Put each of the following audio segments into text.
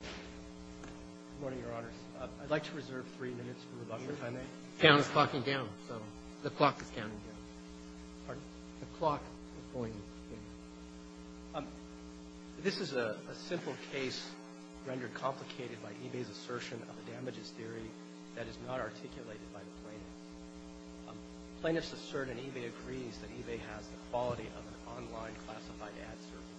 Good morning, Your Honors. I'd like to reserve three minutes for rebuttal, if I may. The count is clocking down, so the clock is counting down. Pardon? The clock is going in. This is a simple case rendered complicated by Ebay's assertion of the damages theory that is not articulated by the plaintiffs. Plaintiffs assert, and Ebay agrees, that Ebay has the quality of an online classified ad service.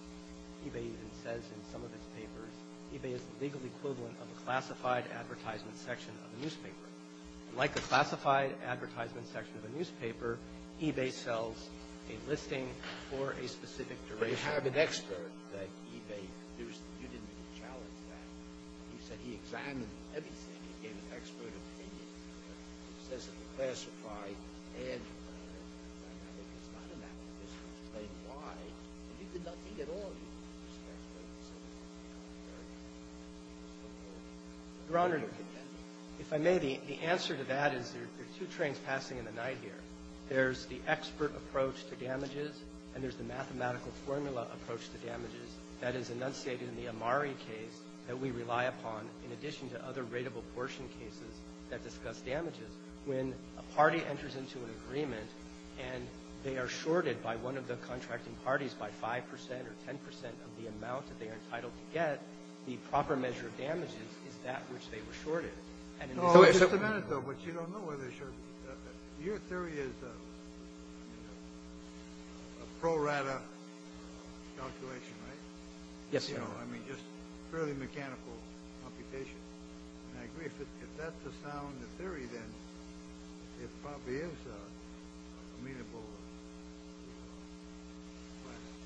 Ebay even says in some of its papers, Ebay is the legal equivalent of a classified advertisement section of a newspaper. Like a classified advertisement section of a newspaper, Ebay sells a listing for a specific duration. But you have an expert that Ebay produced. You didn't even challenge that. You said he examined everything. He gave an expert opinion. He says it's classified, and I think it's not a matter of discipline to explain why. And you could not think at all that you could do that. Your Honor, if I may, the answer to that is there are two trains passing in the night here. There's the expert approach to damages, and there's the mathematical formula approach to damages that is enunciated in the Amari case that we rely upon, in addition to other rateable portion cases that discuss damages. When a party enters into an agreement and they are shorted by one of the contracting parties by 5 percent or 10 percent of the amount that they are entitled to get, the proper measure of damages is that which they were shorted. And in the case of the plaintiffs, they were shorted. No, just a minute, though, which you don't know whether they're shorted. Your theory is a pro rata calculation, right? Yes, Your Honor. I mean, just fairly mechanical computation. And I agree, if that's the sound, the theory, then it probably is a meanable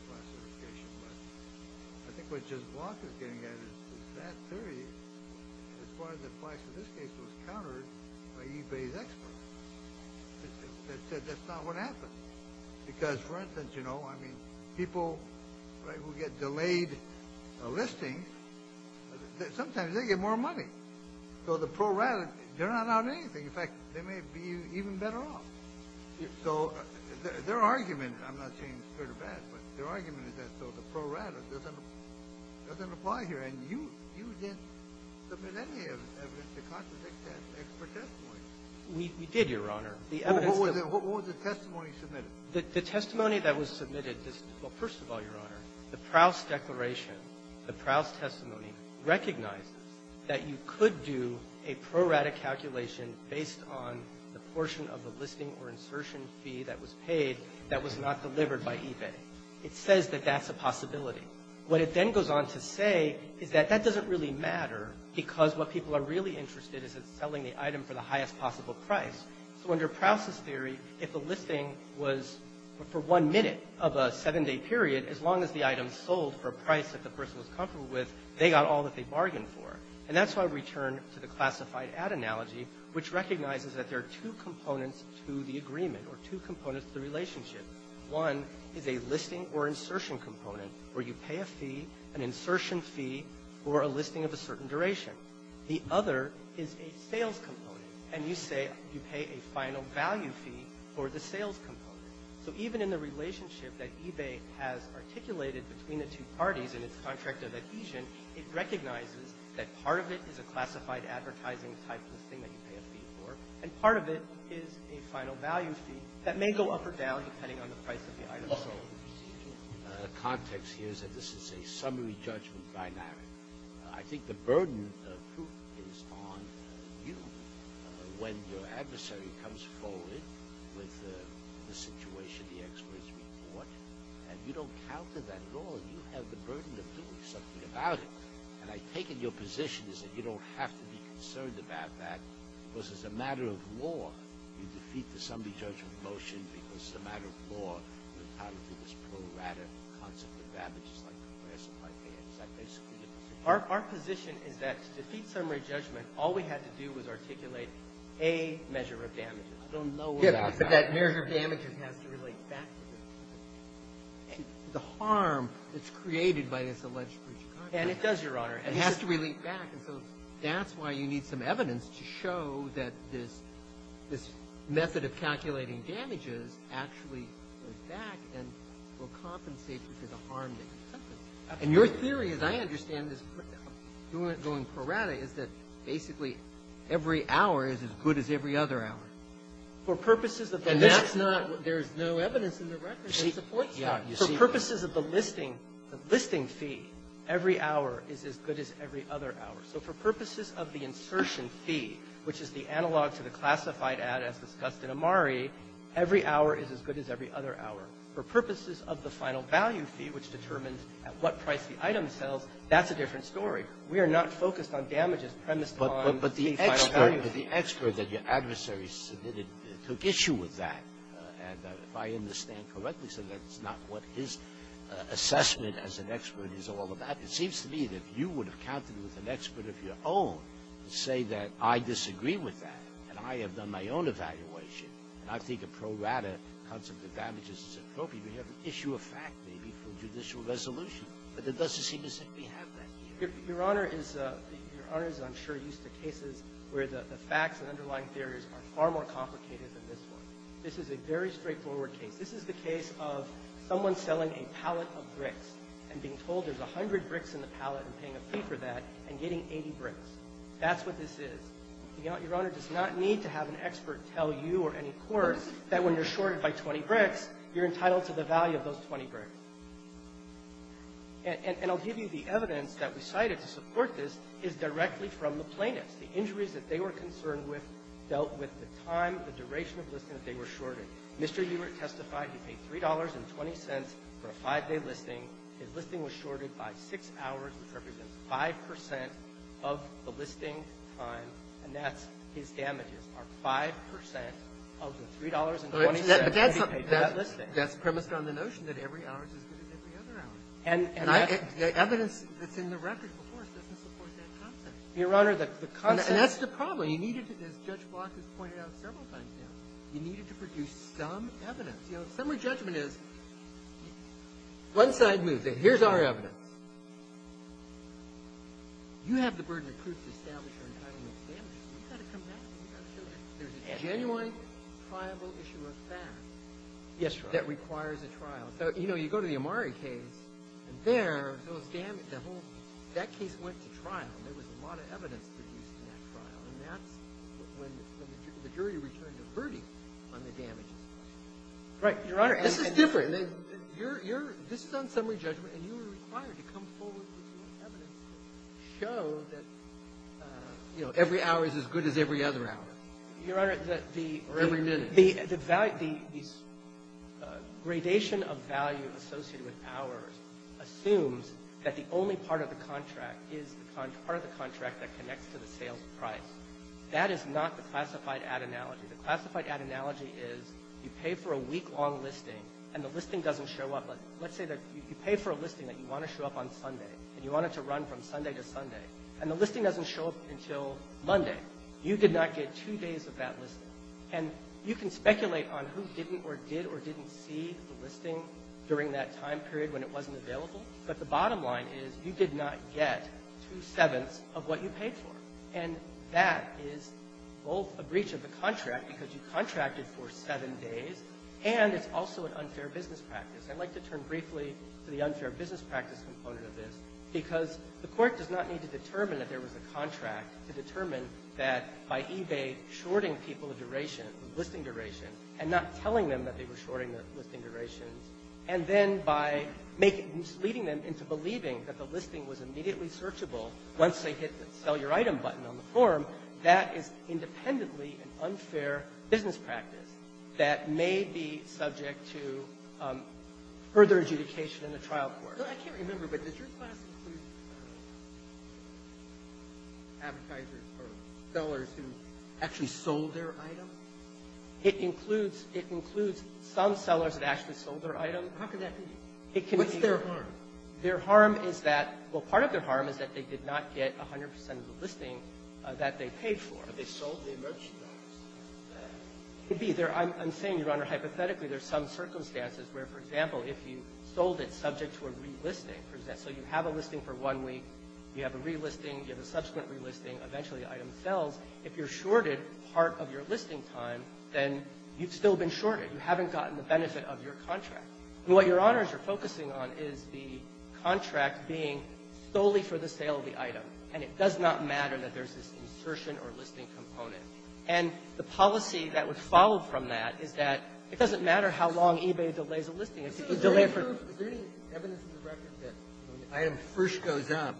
classification. But I think what just Block is getting at is that theory, as far as the price of this case, was countered by eBay's experts. That's not what happened. Because, for instance, you know, I mean, people who get delayed listings, sometimes they get more money. So the pro rata, they're not out of anything. In fact, they may be even better off. So their argument, I'm not saying it's good or bad, but their argument is that the pro rata doesn't apply here. And you didn't submit any evidence to contradict that expert testimony. We did, Your Honor. What was the testimony submitted? The testimony that was submitted, well, first of all, Your Honor, the Prowse declaration, the Prowse testimony recognizes that you could do a pro rata calculation based on the portion of the listing or insertion fee that was paid that was not delivered by eBay. It says that that's a possibility. What it then goes on to say is that that doesn't really matter because what people are really interested in is selling the item for the highest possible price. So under Prowse's theory, if the listing was for one minute of a seven-day period, as long as the item sold for a price that the person was comfortable with, they got all that they bargained for. And that's why we turn to the classified ad analogy, which recognizes that there are two components to the agreement or two components to the relationship. One is a listing or insertion component where you pay a fee, an insertion fee, or a listing of a certain duration. The other is a sales component, and you say you pay a final value fee for the sales component. So even in the relationship that eBay has articulated between the two parties in its contract of adhesion, it recognizes that part of it is a classified advertising type listing that you pay a fee for, and part of it is a final value fee that may go up or down depending on the price of the item sold. The context here is that this is a summary judgment binary. I think the burden is on you when your adversary comes forward with the situation the experts report, and you don't counter that at all. You have the burden of doing something about it. And I take it your position is that you don't have to be concerned about that because it's a matter of law. You defeat the summary judgment motion because it's a matter of law. Our position is that to defeat summary judgment, all we had to do was articulate a measure of damages. I don't know what that is. But that measure of damages has to relate back to the harm that's created by this alleged breach of contract. And it does, Your Honor. It has to relate back. And so that's why you need some evidence to show that this method of calculating damages actually goes back and will compensate for the harm that you've done. And your theory, as I understand this, going pro rata, is that basically every hour is as good as every other hour. For purposes of the listing fee, every hour is as good as every other hour. So for purposes of the insertion fee, which is the analog to the classified ad as discussed in Amari, every hour is as good as every other hour. For purposes of the final value fee, which determines at what price the item sells, that's a different story. We are not focused on damages premised on the final value fee. Scalia. But the expert that your adversary submitted took issue with that. And if I understand correctly, so that's not what his assessment as an expert is all about. It seems to me that if you would have counted with an expert of your own to say that I disagree with that and I have done my own evaluation and I think a pro rata concept of damages is appropriate, we have an issue of fact, maybe, for judicial resolution. But it doesn't seem to say we have that. Your Honor is, I'm sure, used to cases where the facts and underlying theories are far more complicated than this one. This is a very straightforward case. This is the case of someone selling a pallet of bricks and being told there's a hundred bricks in the pallet and paying a fee for that and getting 80 bricks. That's what this is. Your Honor does not need to have an expert tell you or any court that when you're shorted by 20 bricks, you're entitled to the value of those 20 bricks. And I'll give you the evidence that we cited to support this is directly from the plaintiffs. The injuries that they were concerned with dealt with the time, the duration of the listing that they were shorted. Mr. Hubert testified he paid $3.20 for a five-day listing. His listing was shorted by six hours, which represents 5 percent of the listing time, and that's his damages are 5 percent of the $3.20 that he paid for that listing. That's premised on the notion that every hour is as good as every other hour. And the evidence that's in the record, of course, doesn't support that concept. Your Honor, the concept of the time that he was shorted is directly from the plaintiffs. And that's the problem. You needed to, as Judge Block has pointed out several times now, you needed to produce some evidence. You know, summary judgment is one side moves it. Here's our evidence. You have the burden of proof to establish your entitlement to damages. You've got to come back and you've got to show that there's a genuine, triable issue of fact that requires a trial. You know, you go to the Amari case, and there, that case went to trial. There was a lot of evidence produced in that trial. And that's when the jury returned a verdict on the damages. Right, Your Honor. This is different. You're — this is on summary judgment, and you were required to come forward with some evidence to show that, you know, every hour is as good as every other hour. Your Honor, the — Or every minute. The gradation of value associated with hours assumes that the only part of the contract is the part of the contract that connects to the sales price. That is not the classified ad analogy. The classified ad analogy is you pay for a week-long listing, and the listing doesn't show up. But let's say that you pay for a listing that you want to show up on Sunday, and you want it to run from Sunday to Sunday, and the listing doesn't show up until Monday. You did not get two days of that listing. And you can speculate on who didn't or did or didn't see the listing during that time period when it wasn't available. But the bottom line is you did not get two-sevenths of what you paid for. And that is both a breach of the contract, because you contracted for seven days, and it's also an unfair business practice. I'd like to turn briefly to the unfair business practice component of this, because the Court does not need to determine that there was a contract to determine that by eBay shorting people a duration, a listing duration, and not telling them that they were shorting the listing durations, and then by leading them into believing that the listing was immediately searchable once they hit the sell your item button on the form, that is independently an unfair business practice that may be subject to further adjudication in the trial court. I can't remember, but does your class include advertisers or sellers who actually sold their item? It includes some sellers that actually sold their item. How can that be? What's their harm? Their harm is that, well, part of their harm is that they did not get 100 percent of the listing that they paid for. They sold their merchandise. It could be. I'm saying, Your Honor, hypothetically there's some circumstances where, for example, if you sold it subject to a relisting, so you have a listing for one week, you have a relisting, you have a subsequent relisting, eventually the item sells. If you're shorted part of your listing time, then you've still been shorted. You haven't gotten the benefit of your contract. And what, Your Honors, you're focusing on is the contract being solely for the sale of the item, and it does not matter that there's this insertion or listing component. And the policy that would follow from that is that it doesn't matter how long eBay delays a listing. It's a delay for the listing. Is there any evidence in the record that when the item first goes up,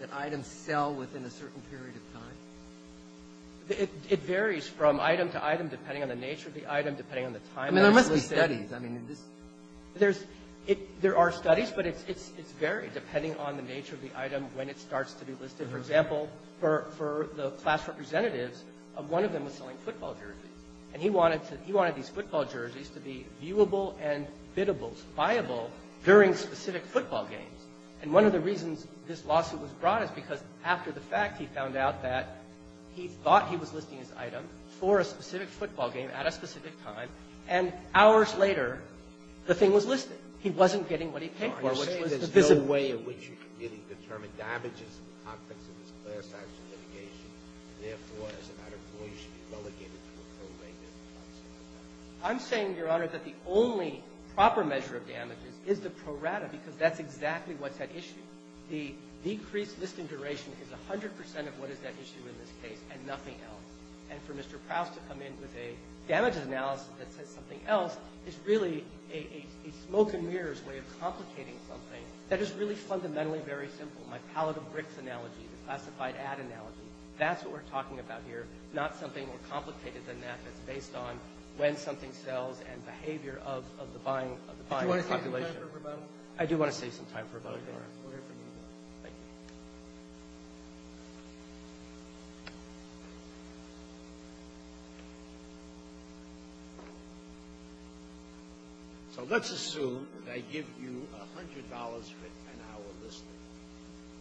that items sell within a certain period of time? It varies from item to item depending on the nature of the item, depending on the time that it's listed. I mean, there must be studies. I mean, in this. There's – there are studies, but it's varied depending on the nature of the item when it starts to be listed. For example, for the class representatives, one of them was selling football jerseys. And he wanted to – he wanted these football jerseys to be viewable and biddable, buyable during specific football games. And one of the reasons this lawsuit was brought is because after the fact, he found out that he thought he was listing his item for a specific football game at a specific time, and hours later, the thing was listed. He wasn't getting what he paid for, which was the visit. You're saying there's no way in which you can really determine damages in the context of this class action litigation, and therefore, as a matter of law, you should be relegated to a pro rata in this case. I'm saying, Your Honor, that the only proper measure of damages is the pro rata, because that's exactly what's at issue. The decreased listing duration is 100 percent of what is at issue in this case and nothing else. And for Mr. Prowse to come in with a damages analysis that says something else is really a smoke and mirrors way of complicating something that is really fundamentally very simple. My pallet of bricks analogy, the classified ad analogy, that's what we're talking about here, not something more complicated than that that's based on when something sells and behavior of the buying population. Do you want to save some time for rebuttal? I do want to save some time for rebuttal, Your Honor. We'll hear from you. Thank you. So let's assume that I give you $100 for an hour listing,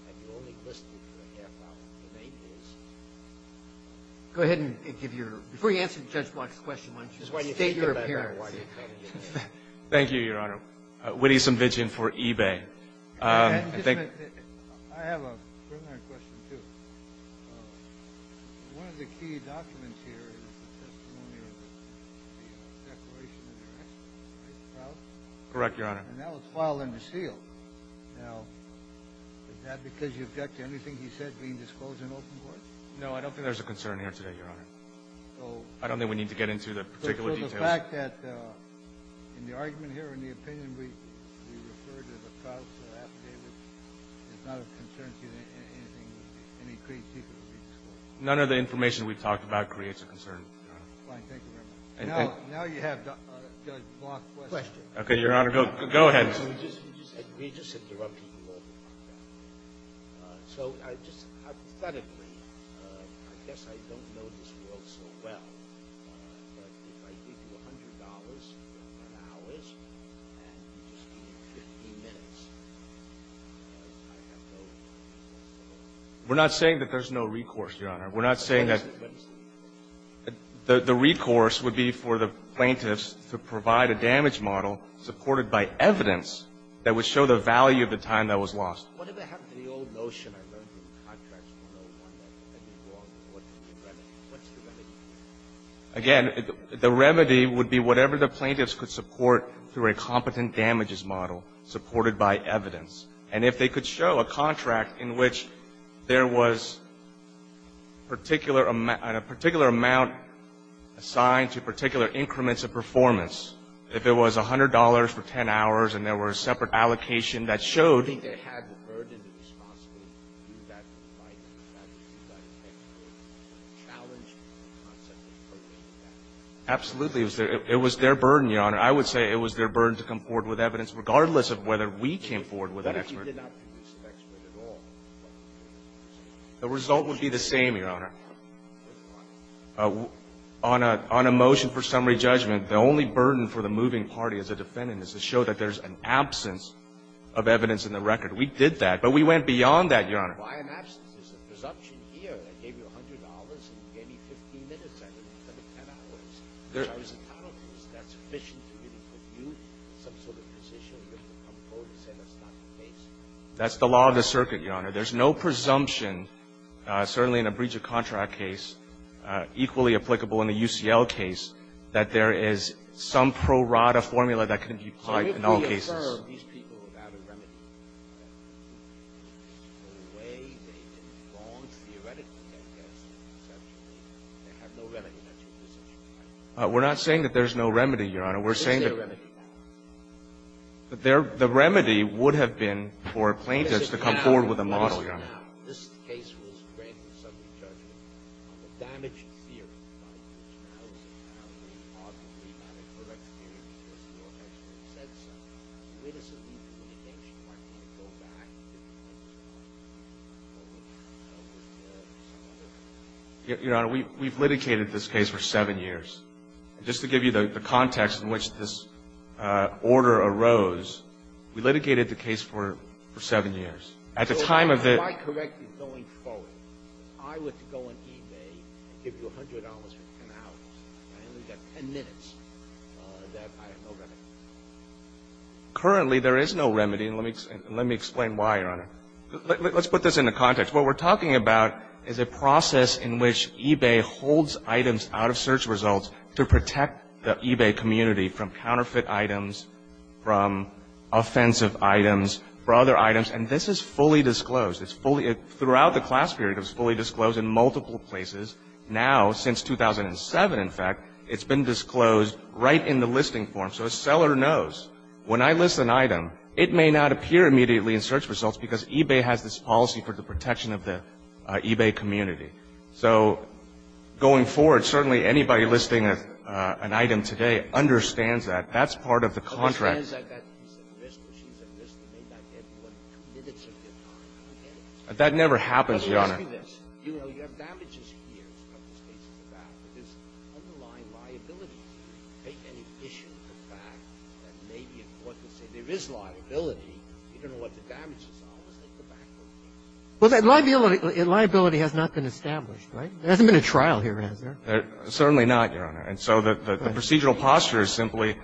and you're only listing for a half hour. The name is? Go ahead and give your ---- before you answer Judge Block's question, why don't you state your appearance. Thank you, Your Honor. Witty Sumvichian for eBay. I have a preliminary question, too. One of the key documents here in the testimony was the declaration of the rights of the Prowse? Correct, Your Honor. And that was filed under seal. Now, is that because you object to anything he said being disclosed in open court? No, I don't think there's a concern here today, Your Honor. I don't think we need to get into the particular details. So the fact that in the argument here, in the opinion we referred to the Prowse affidavit is not of concern to you in any creative way? None of the information we talked about creates a concern, Your Honor. Fine. Thank you very much. Now you have Judge Block's question. Okay, Your Honor. Go ahead. You just interrupted me. So I just, hypothetically, I guess I don't know this world so well, but if I give you $100 for an hour and just give you 15 minutes, I have no recourse. We're not saying that there's no recourse, Your Honor. We're not saying that the recourse would be for the plaintiffs to provide a damage model supported by evidence that would show the value of the time that was lost. What if I have the old notion, I don't think contracts 101, that you go on to court and get remedy? What's the remedy? Again, the remedy would be whatever the plaintiffs could support through a competent damages model supported by evidence. And if they could show a contract in which there was a particular amount assigned to particular increments of performance, if it was $100 for 10 hours and there were separate allocations that showed I don't think they had the burden, if it's possible, to do that right, to do that effectively, to challenge the concept of appropriate damages. Absolutely. It was their burden, Your Honor. I would say it was their burden to come forward with evidence, regardless of whether we came forward with an expert. What if you did not produce an expert at all? The result would be the same, Your Honor. On a motion for summary judgment, the only burden for the moving party as a defendant is to show that there's an absence of evidence in the record. We did that. But we went beyond that, Your Honor. Why an absence? There's a presumption here. I gave you $100 and gave you 15 minutes. I didn't give you 10 hours. I was a panelist. That's sufficient to give you some sort of position to come forward and say that's not the case. That's the law of the circuit, Your Honor. There's no presumption, certainly in a breach-of-contract case, equally applicable in a UCL case, that there is some pro rata formula that can be applied in all cases. Can you reaffirm these people without a remedy? The way they did wrong theoretically, I guess, is essentially they have no remedy in that situation. We're not saying that there's no remedy, Your Honor. We're saying that the remedy would have been for plaintiffs to come forward with a model, Your Honor. Your Honor, we've litigated this case for seven years. Just to give you the context in which this order arose, we litigated the case for seven years. At the time of the ---- If I correct you going forward, if I were to go on eBay and give you $100 for 10 hours and I only got 10 minutes, I have no remedy. Currently, there is no remedy. And let me explain why, Your Honor. Let's put this into context. What we're talking about is a process in which eBay holds items out of search results to protect the eBay community from counterfeit items, from offensive items, from other items. It's fully disclosed. Throughout the class period, it was fully disclosed in multiple places. Now, since 2007, in fact, it's been disclosed right in the listing form. So a seller knows when I list an item, it may not appear immediately in search results because eBay has this policy for the protection of the eBay community. So going forward, certainly anybody listing an item today understands that. That's part of the contract. That never happens, Your Honor. Well, that liability has not been established, right? There hasn't been a trial here, has there? Certainly not, Your Honor. And so the procedural posture is simply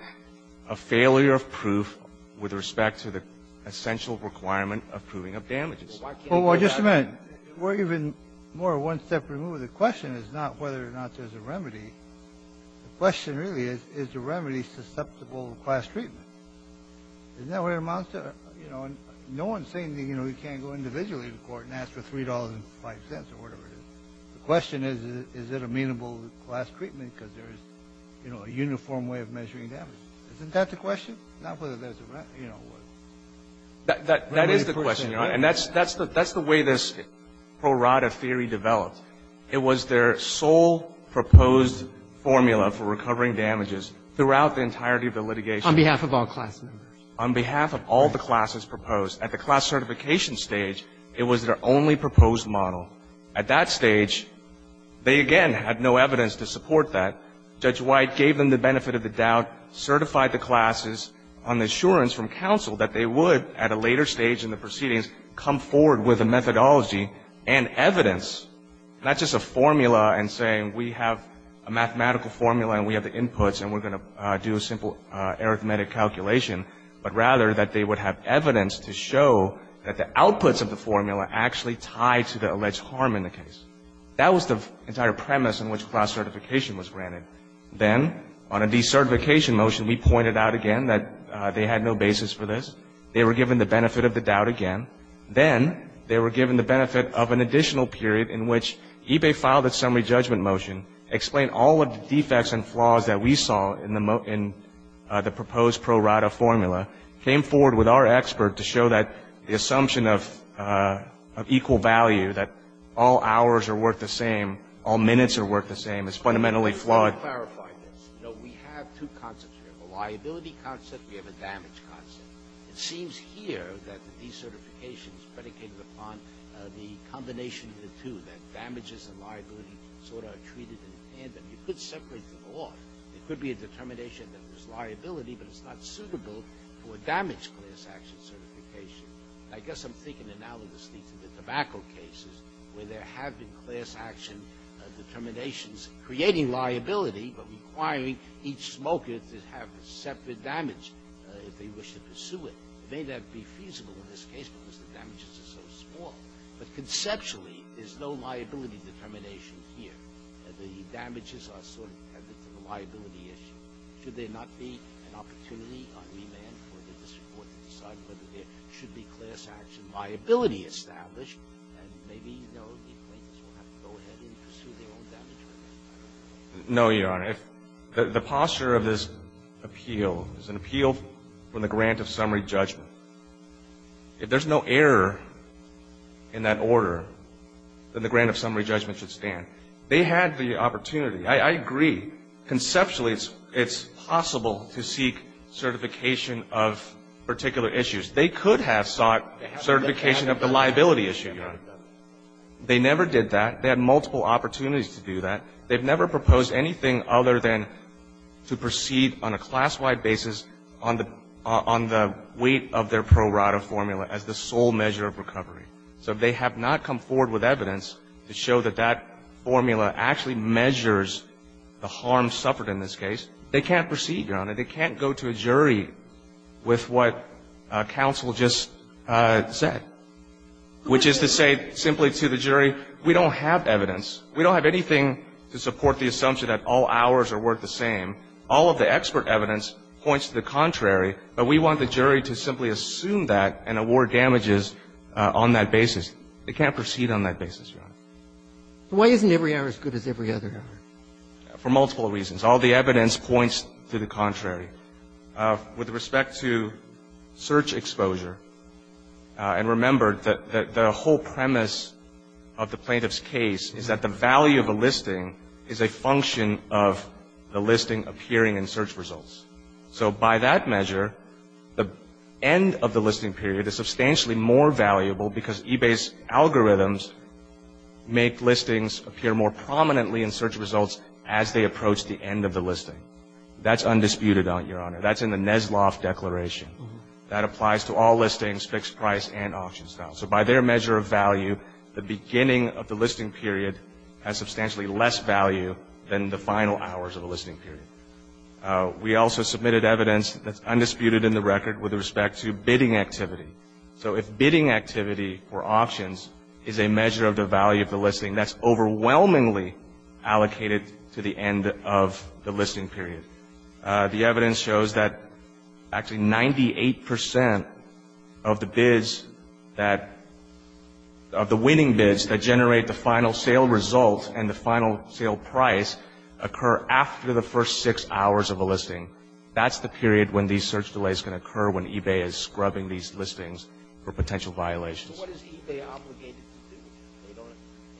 a failure of proof with respect to the essential requirement of proving of damages. Well, just a minute. We're even more one step removed. The question is not whether or not there's a remedy. The question really is, is the remedy susceptible to class treatment? Isn't that what it amounts to? You know, no one's saying, you know, you can't go individually to court and ask for $3.05 or whatever it is. The question is, is it amenable to class treatment because there is, you know, a uniform way of measuring damages. Isn't that the question? Not whether there's a remedy, you know. That is the question, Your Honor. And that's the way this pro rata theory developed. It was their sole proposed formula for recovering damages throughout the entirety of the litigation. On behalf of all class members. On behalf of all the classes proposed. At the class certification stage, it was their only proposed model. At that stage, they, again, had no evidence to support that. Judge White gave them the benefit of the doubt, certified the classes on the assurance from counsel that they would, at a later stage in the proceedings, come forward with a methodology and evidence. Not just a formula and saying we have a mathematical formula and we have the inputs and we're going to do a simple arithmetic calculation, but rather that they would have evidence to show that the outputs of the formula actually tied to the alleged harm in the case. That was the entire premise in which class certification was granted. Then, on a decertification motion, we pointed out again that they had no basis for this. They were given the benefit of the doubt again. Then they were given the benefit of an additional period in which EBAE filed a summary judgment motion, explained all of the defects and flaws that we saw in the proposed pro rata formula, came forward with our expert to show that the assumption of equal value, that all hours are worth the same, all minutes are worth the same, is fundamentally flawed. Let me clarify this. You know, we have two concepts here. We have a liability concept. We have a damage concept. It seems here that the decertification is predicated upon the combination of the two, that damages and liability sort of are treated in tandem. You could separate them off. It could be a determination that there's liability, but it's not suitable for damage class action certification. I guess I'm thinking analogously to the tobacco cases, where there have been class action determinations creating liability but requiring each smoker to have a separate damage if they wish to pursue it. It may not be feasible in this case because the damages are so small. But conceptually, there's no liability determination here. The damages are sort of tethered to the liability issue. Should there not be an opportunity on remand for the district court to decide whether there should be class action liability established? And maybe, you know, the plaintiffs will have to go ahead and pursue their own damages. No, Your Honor. The posture of this appeal is an appeal for the grant of summary judgment. If there's no error in that order, then the grant of summary judgment should stand. They had the opportunity. I agree. Conceptually, it's possible to seek certification of particular issues. They could have sought certification of the liability issue, Your Honor. They never did that. They had multiple opportunities to do that. They've never proposed anything other than to proceed on a class-wide basis on the weight of their pro rata formula as the sole measure of recovery. So if they have not come forward with evidence to show that that formula actually measures the harm suffered in this case, they can't proceed, Your Honor. They can't go to a jury with what counsel just said, which is to say simply to the jury, we don't have evidence. We don't have anything to support the assumption that all ours are worth the same. All of the expert evidence points to the contrary. But we want the jury to simply assume that and award damages on that basis. They can't proceed on that basis, Your Honor. Why isn't every error as good as every other error? For multiple reasons. All the evidence points to the contrary. With respect to search exposure, and remember that the whole premise of the plaintiff's case is that the value of a listing is a function of the listing appearing in search results. So by that measure, the end of the listing period is substantially more valuable because eBay's algorithms make listings appear more prominently in search results as they approach the end of the listing. That's undisputed, Your Honor. That's in the Nesloff Declaration. That applies to all listings, fixed price, and auction style. So by their measure of value, the beginning of the listing period has substantially less value than the final hours of the listing period. We also submitted evidence that's undisputed in the record with respect to bidding activity. So if bidding activity or options is a measure of the value of the listing, that's overwhelmingly allocated to the end of the listing period. The evidence shows that actually 98 percent of the bids that the winning bids that the winning bidders have submitted are actually in the last six hours of the listing. That's the period when these search delays can occur, when eBay is scrubbing these listings for potential violations. So what is eBay obligated to do? They don't have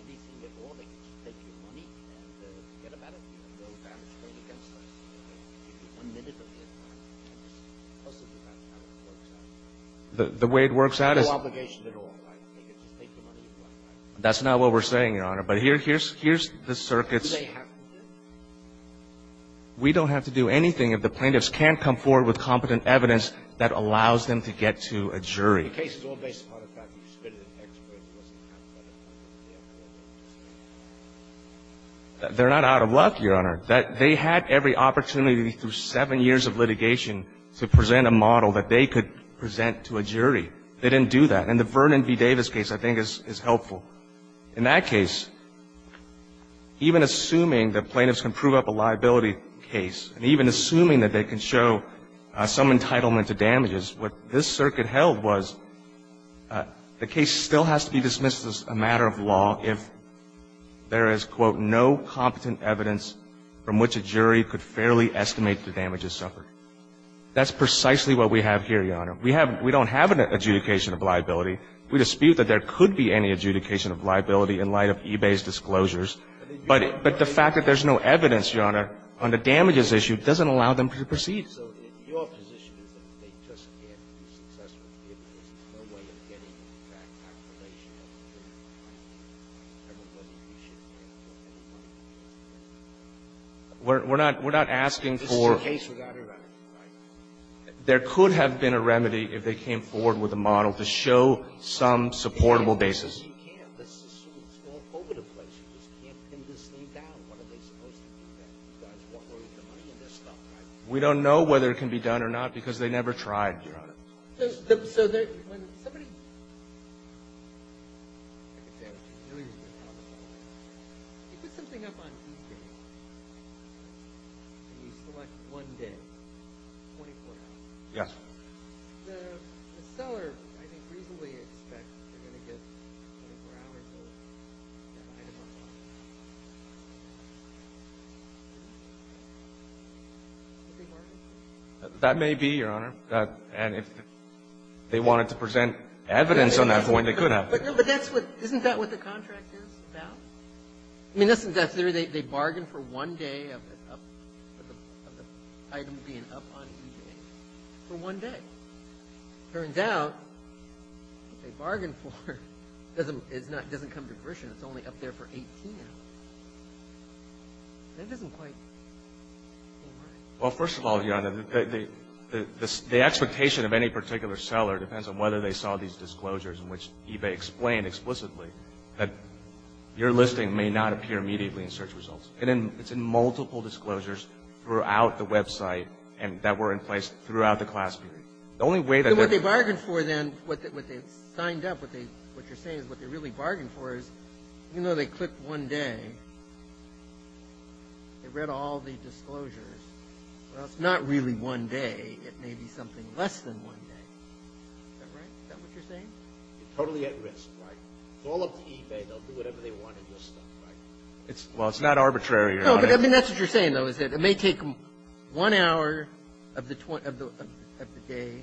anything at all. They can just take your money and get about a bill of damage paid against them. One minute of the entire time, and just hustle through that is how it works out. The way it works out is no obligation at all. That's not what we're saying, Your Honor. But here's the circuits. We don't have to do anything if the plaintiffs can't come forward with competent evidence that allows them to get to a jury. They're not out of luck, Your Honor. They had every opportunity through seven years of litigation to present a model that they could present to a jury. They didn't do that. And the Vernon v. Davis case, I think, is helpful. In that case, even assuming that plaintiffs can prove up a liability case, and even assuming that they can show some entitlement to damages, what this circuit held was the case still has to be dismissed as a matter of law if there is, quote, no competent evidence from which a jury could fairly estimate the damages suffered. That's precisely what we have here, Your Honor. We have — we don't have an adjudication of liability. We dispute that there could be any adjudication of liability in light of eBay's disclosures. But the fact that there's no evidence, Your Honor, on the damages issue doesn't allow them to proceed. We're not — we're not asking for — There could have been a remedy if they came forward with a model to show some supportable basis. We don't know whether it can be done or not because they never tried, Your Honor. That may be, Your Honor. And if they wanted to present evidence on that point, they could have. But that's what — isn't that what the contract is about? I mean, they bargain for one day of the item being up on eBay for one day. It turns out what they bargained for doesn't come to fruition. It's only up there for 18 hours. That doesn't quite hold right. Well, first of all, Your Honor, the expectation of any particular seller depends on whether they saw these disclosures in which eBay explained explicitly that your listing may not appear immediately in search results. And it's in multiple disclosures throughout the website and that were in place throughout the class period. The only way that — What they bargained for then — what they signed up — what you're saying is what they really bargained for is even though they clicked one day, they read all the disclosures. Well, it's not really one day. It may be something less than one day. Is that right? Is that what you're saying? They're totally at risk, right? It's all up to eBay. They'll do whatever they want in this stuff, right? Well, it's not arbitrary, Your Honor. No, but I mean, that's what you're saying, though, is that it may take them one hour of the day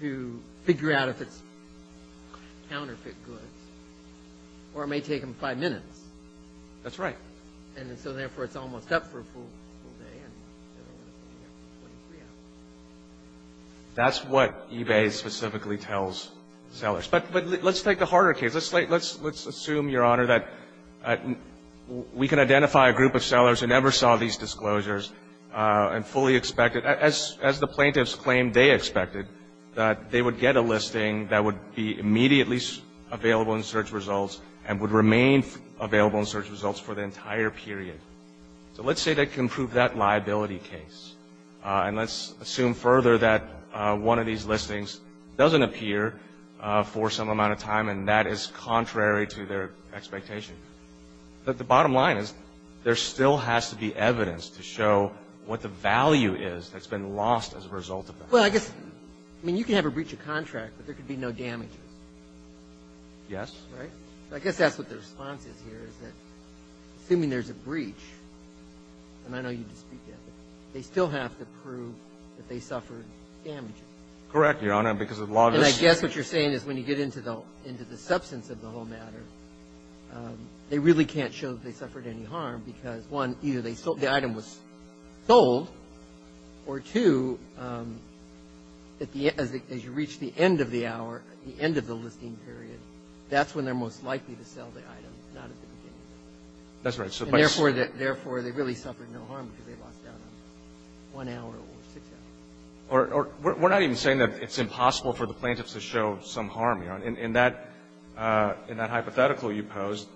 to figure out if it's counterfeit goods, or it may take them five minutes. That's right. And so, therefore, it's almost up for a full day. That's what eBay specifically tells sellers. But let's take the harder case. Let's assume, Your Honor, that we can identify a group of sellers who never saw these disclosures and fully expected — as the plaintiffs claimed they expected, that they would get a listing that would be immediately available in search results and would So let's say they can prove that liability case. And let's assume further that one of these listings doesn't appear for some amount of time, and that is contrary to their expectations. But the bottom line is there still has to be evidence to show what the value is that's been lost as a result of that. Well, I guess — I mean, you can have a breach of contract, but there could be no damages. Yes. Right? I guess that's what the response is here, is that, assuming there's a breach, and I know you dispute that, but they still have to prove that they suffered damage. Correct, Your Honor, because of lawlessness. And I guess what you're saying is when you get into the substance of the whole matter, they really can't show that they suffered any harm because, one, either the item was sold, or, two, as you reach the end of the hour, the end of the listing period, that's when they're most likely to sell the item, not at the beginning of it. That's right. Therefore, they really suffered no harm because they lost out on one hour or six hours. We're not even saying that it's impossible for the plaintiffs to show some harm, Your Honor. In that hypothetical you posed,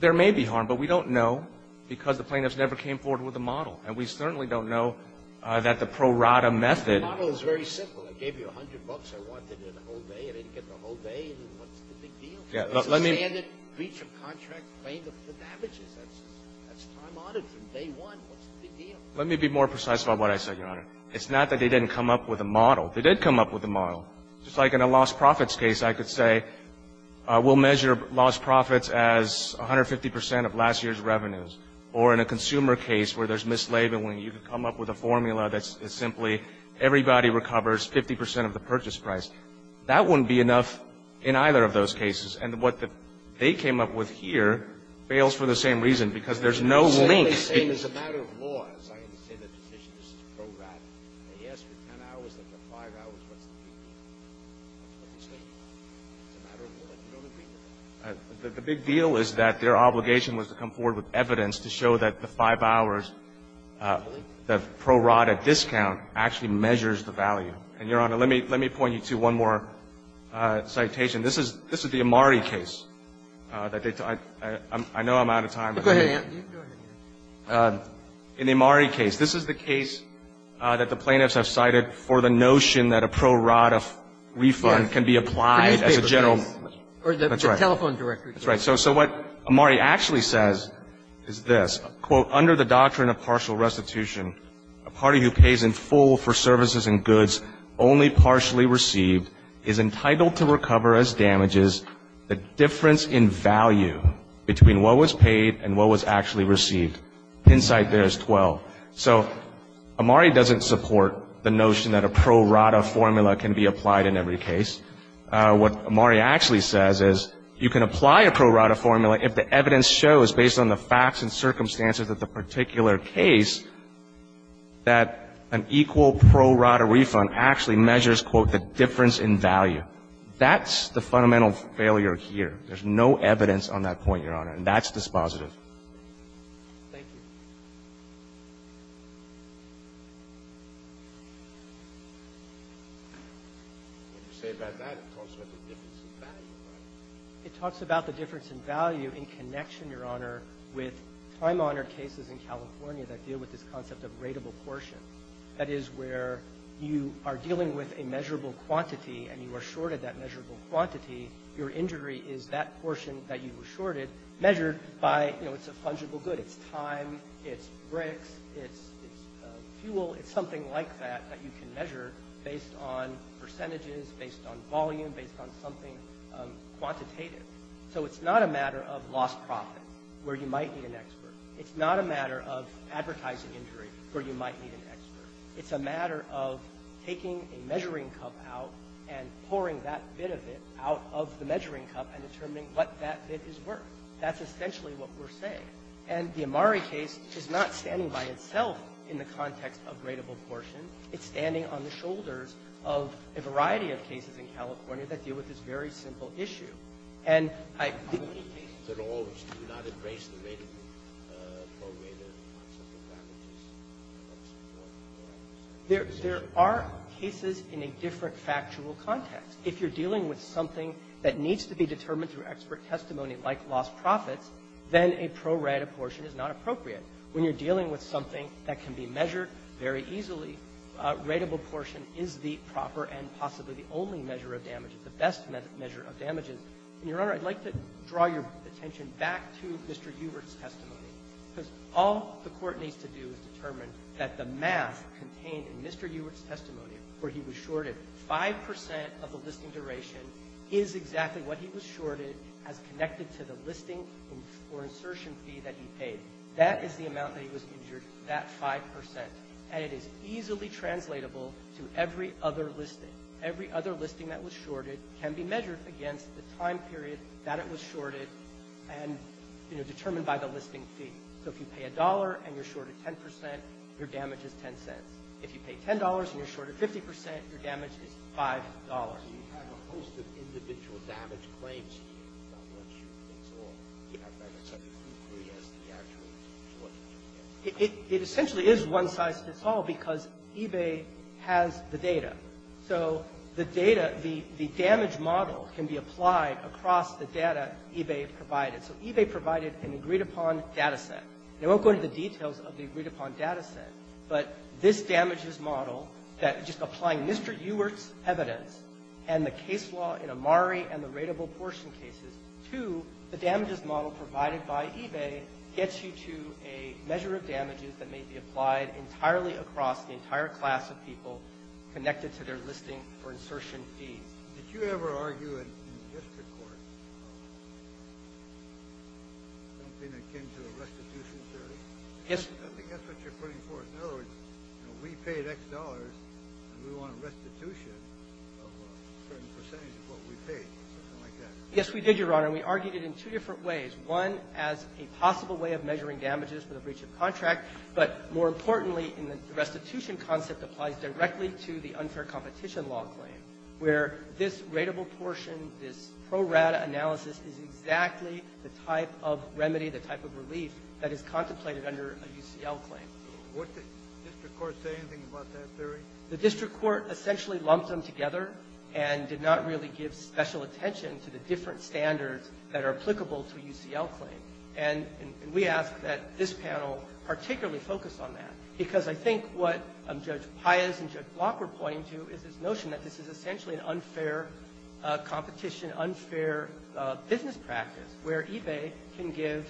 there may be harm, but we don't know because the plaintiffs never came forward with a model. And we certainly don't know that the pro rata method — The model is very simple. I gave you 100 bucks. I wanted it the whole day. I didn't get the whole day. What's the big deal? Yeah, let me — It's a standard breach of contract plaintiff that damages. That's time honored from day one. What's the big deal? Let me be more precise about what I said, Your Honor. It's not that they didn't come up with a model. They did come up with a model. Just like in a lost profits case, I could say we'll measure lost profits as 150 percent of last year's revenues. Or in a consumer case where there's mislabeling, you could come up with a formula that's simply everybody recovers 50 percent of the purchase price. That wouldn't be enough in either of those cases. And what they came up with here fails for the same reason, because there's no link. It's the same as a matter of law. As I understand the petition, this is pro rata. They asked for 10 hours. They put 5 hours. What's the big deal? What's the big deal? It's a matter of law. There's no big deal. The big deal is that their obligation was to come forward with evidence to show that the 5 hours, the pro rata discount actually measures the value. And, Your Honor, let me point you to one more citation. This is the Amari case. I know I'm out of time. In the Amari case, this is the case that the plaintiffs have cited for the notion that a pro rata refund can be applied as a general. That's right. That's right. So what Amari actually says is this. Under the doctrine of partial restitution, a party who pays in full for services and goods only partially received is entitled to recover as damages the difference in value between what was paid and what was actually received. Hinsight there is 12. So Amari doesn't support the notion that a pro rata formula can be applied in every case. What Amari actually says is you can apply a pro rata formula if the evidence shows, based on the facts and circumstances of the particular case, that an equal pro rata refund actually measures, quote, the difference in value. That's the fundamental failure here. There's no evidence on that point, Your Honor. And that's dispositive. Thank you. If you say about that, it talks about the difference in value, right? It talks about the difference in value in connection, Your Honor, with time-honored cases in California that deal with this concept of rateable portion. That is where you are dealing with a measurable quantity and you are shorted that measurable quantity, your injury is that portion that you were shorted measured by, you know, it's a fungible good. It's time. It's bricks. It's fuel. It's something like that that you can measure based on percentages, based on volume, based on something quantitative. So it's not a matter of lost profits, where you might need an expert. It's not a matter of advertising injury, where you might need an expert. It's a matter of taking a measuring cup out and pouring that bit of it out of the measuring cup and determining what that bit is worth. That's essentially what we're saying. And the Amari case is not standing by itself in the context of rateable portion. It's standing on the shoulders of a variety of cases in California. That deal with this very simple issue. And I think that all of us do not embrace the rateable prorated concept of damages. There are cases in a different factual context. If you're dealing with something that needs to be determined through expert testimony like lost profits, then a prorated portion is not appropriate. When you're dealing with something that can be measured very easily, rateable portion is the proper and possibly the only measure of damages, the best measure of damages. And, Your Honor, I'd like to draw your attention back to Mr. Hubert's testimony, because all the Court needs to do is determine that the math contained in Mr. Hubert's testimony, where he was shorted 5 percent of the listing duration, is exactly what he was shorted as connected to the listing or insertion fee that he paid. That is the amount that he was injured, that 5 percent. And it is easily translatable to every other listing. Every other listing that was shorted can be measured against the time period that it was shorted and, you know, determined by the listing fee. So if you pay $1 and you're shorted 10 percent, your damage is 10 cents. If you pay $10 and you're shorted 50 percent, your damage is $5. It essentially is one size fits all because eBay has the data. So the data, the damage model can be applied across the data eBay provided. So eBay provided an agreed-upon data set. And I won't go into the details of the agreed-upon data set, but this damages model that just applying Mr. Hubert's evidence and the case law in Amari and the rateable portion cases to the damages model provided by eBay gets you to a measure of damages that may be applied entirely across the entire class of people connected to their listing or insertion fees. Did you ever argue in district court something akin to a restitution theory? Yes. I think that's what you're putting forth. In other words, you know, we paid X dollars and we want a restitution of a certain percentage of what we paid or something like that. Yes, we did, Your Honor. And we argued it in two different ways. One as a possible way of measuring damages for the breach of contract, but more importantly in the restitution concept applies directly to the unfair competition law claim where this rateable portion, this pro rata analysis is exactly the type of remedy, the type of relief that is contemplated under a UCL claim. Would the district court say anything about that theory? The district court essentially lumped them together and did not really give special attention to the different standards that are applicable to a UCL claim. And we ask that this panel particularly focus on that, because I think what Judge Sotomayor said in the motion that this is essentially an unfair competition, unfair business practice where eBay can give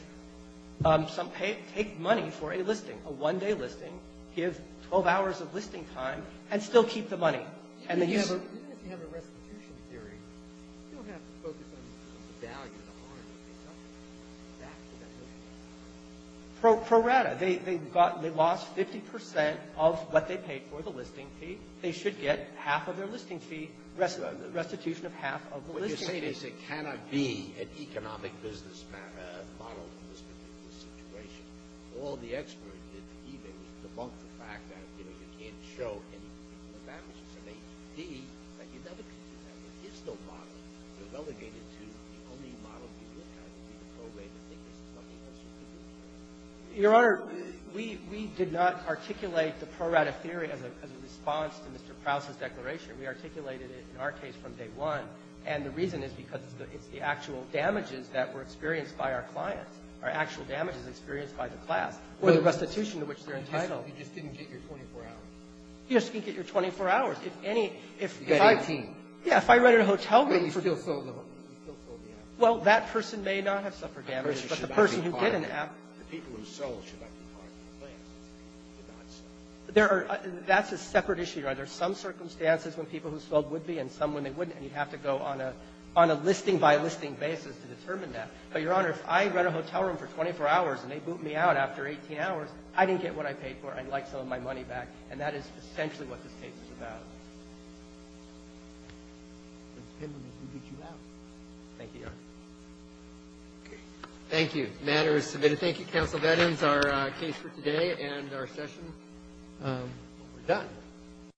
some pay, take money for a listing, a one-day listing, give 12 hours of listing time, and still keep the money. Even if you have a restitution theory, you don't have to focus on the value, the harm. Pro rata, they lost 50 percent of what they paid for the listing fee. They should get half of their listing fee, restitution of half of the listing Breyer. What you're saying is it cannot be an economic business model in this particular situation. All the experts at eBay debunk the fact that, you know, you can't show any advantages of APD, but you never can do that. There is no model. You're relegated to the only model you look at would be the pro rata. I think there's nothing else you can do. Your Honor, we did not articulate the pro rata theory as a response to the fact that in response to Mr. Prowse's declaration, we articulated it in our case from day one, and the reason is because it's the actual damages that were experienced by our clients, or actual damages experienced by the class, or the restitution to which they're entitled. You just didn't get your 24 hours. You just didn't get your 24 hours. If any of the 15. Yeah. If I rented a hotel room for you. But you still sold the app. Well, that person may not have suffered damage, but the person who did an app. The people who sold should not be part of the class. They did not suffer. That's a separate issue. There are some circumstances when people who sold would be and some when they wouldn't, and you'd have to go on a listing-by-listing basis to determine that. But, Your Honor, if I rent a hotel room for 24 hours and they boot me out after 18 hours, I didn't get what I paid for. I'd like some of my money back, and that is essentially what this case is about. It depends on who boots you out. Thank you, Your Honor. Okay. Thank you. The matter is submitted. We thank you, Counsel. That ends our case for today and our session. We're done.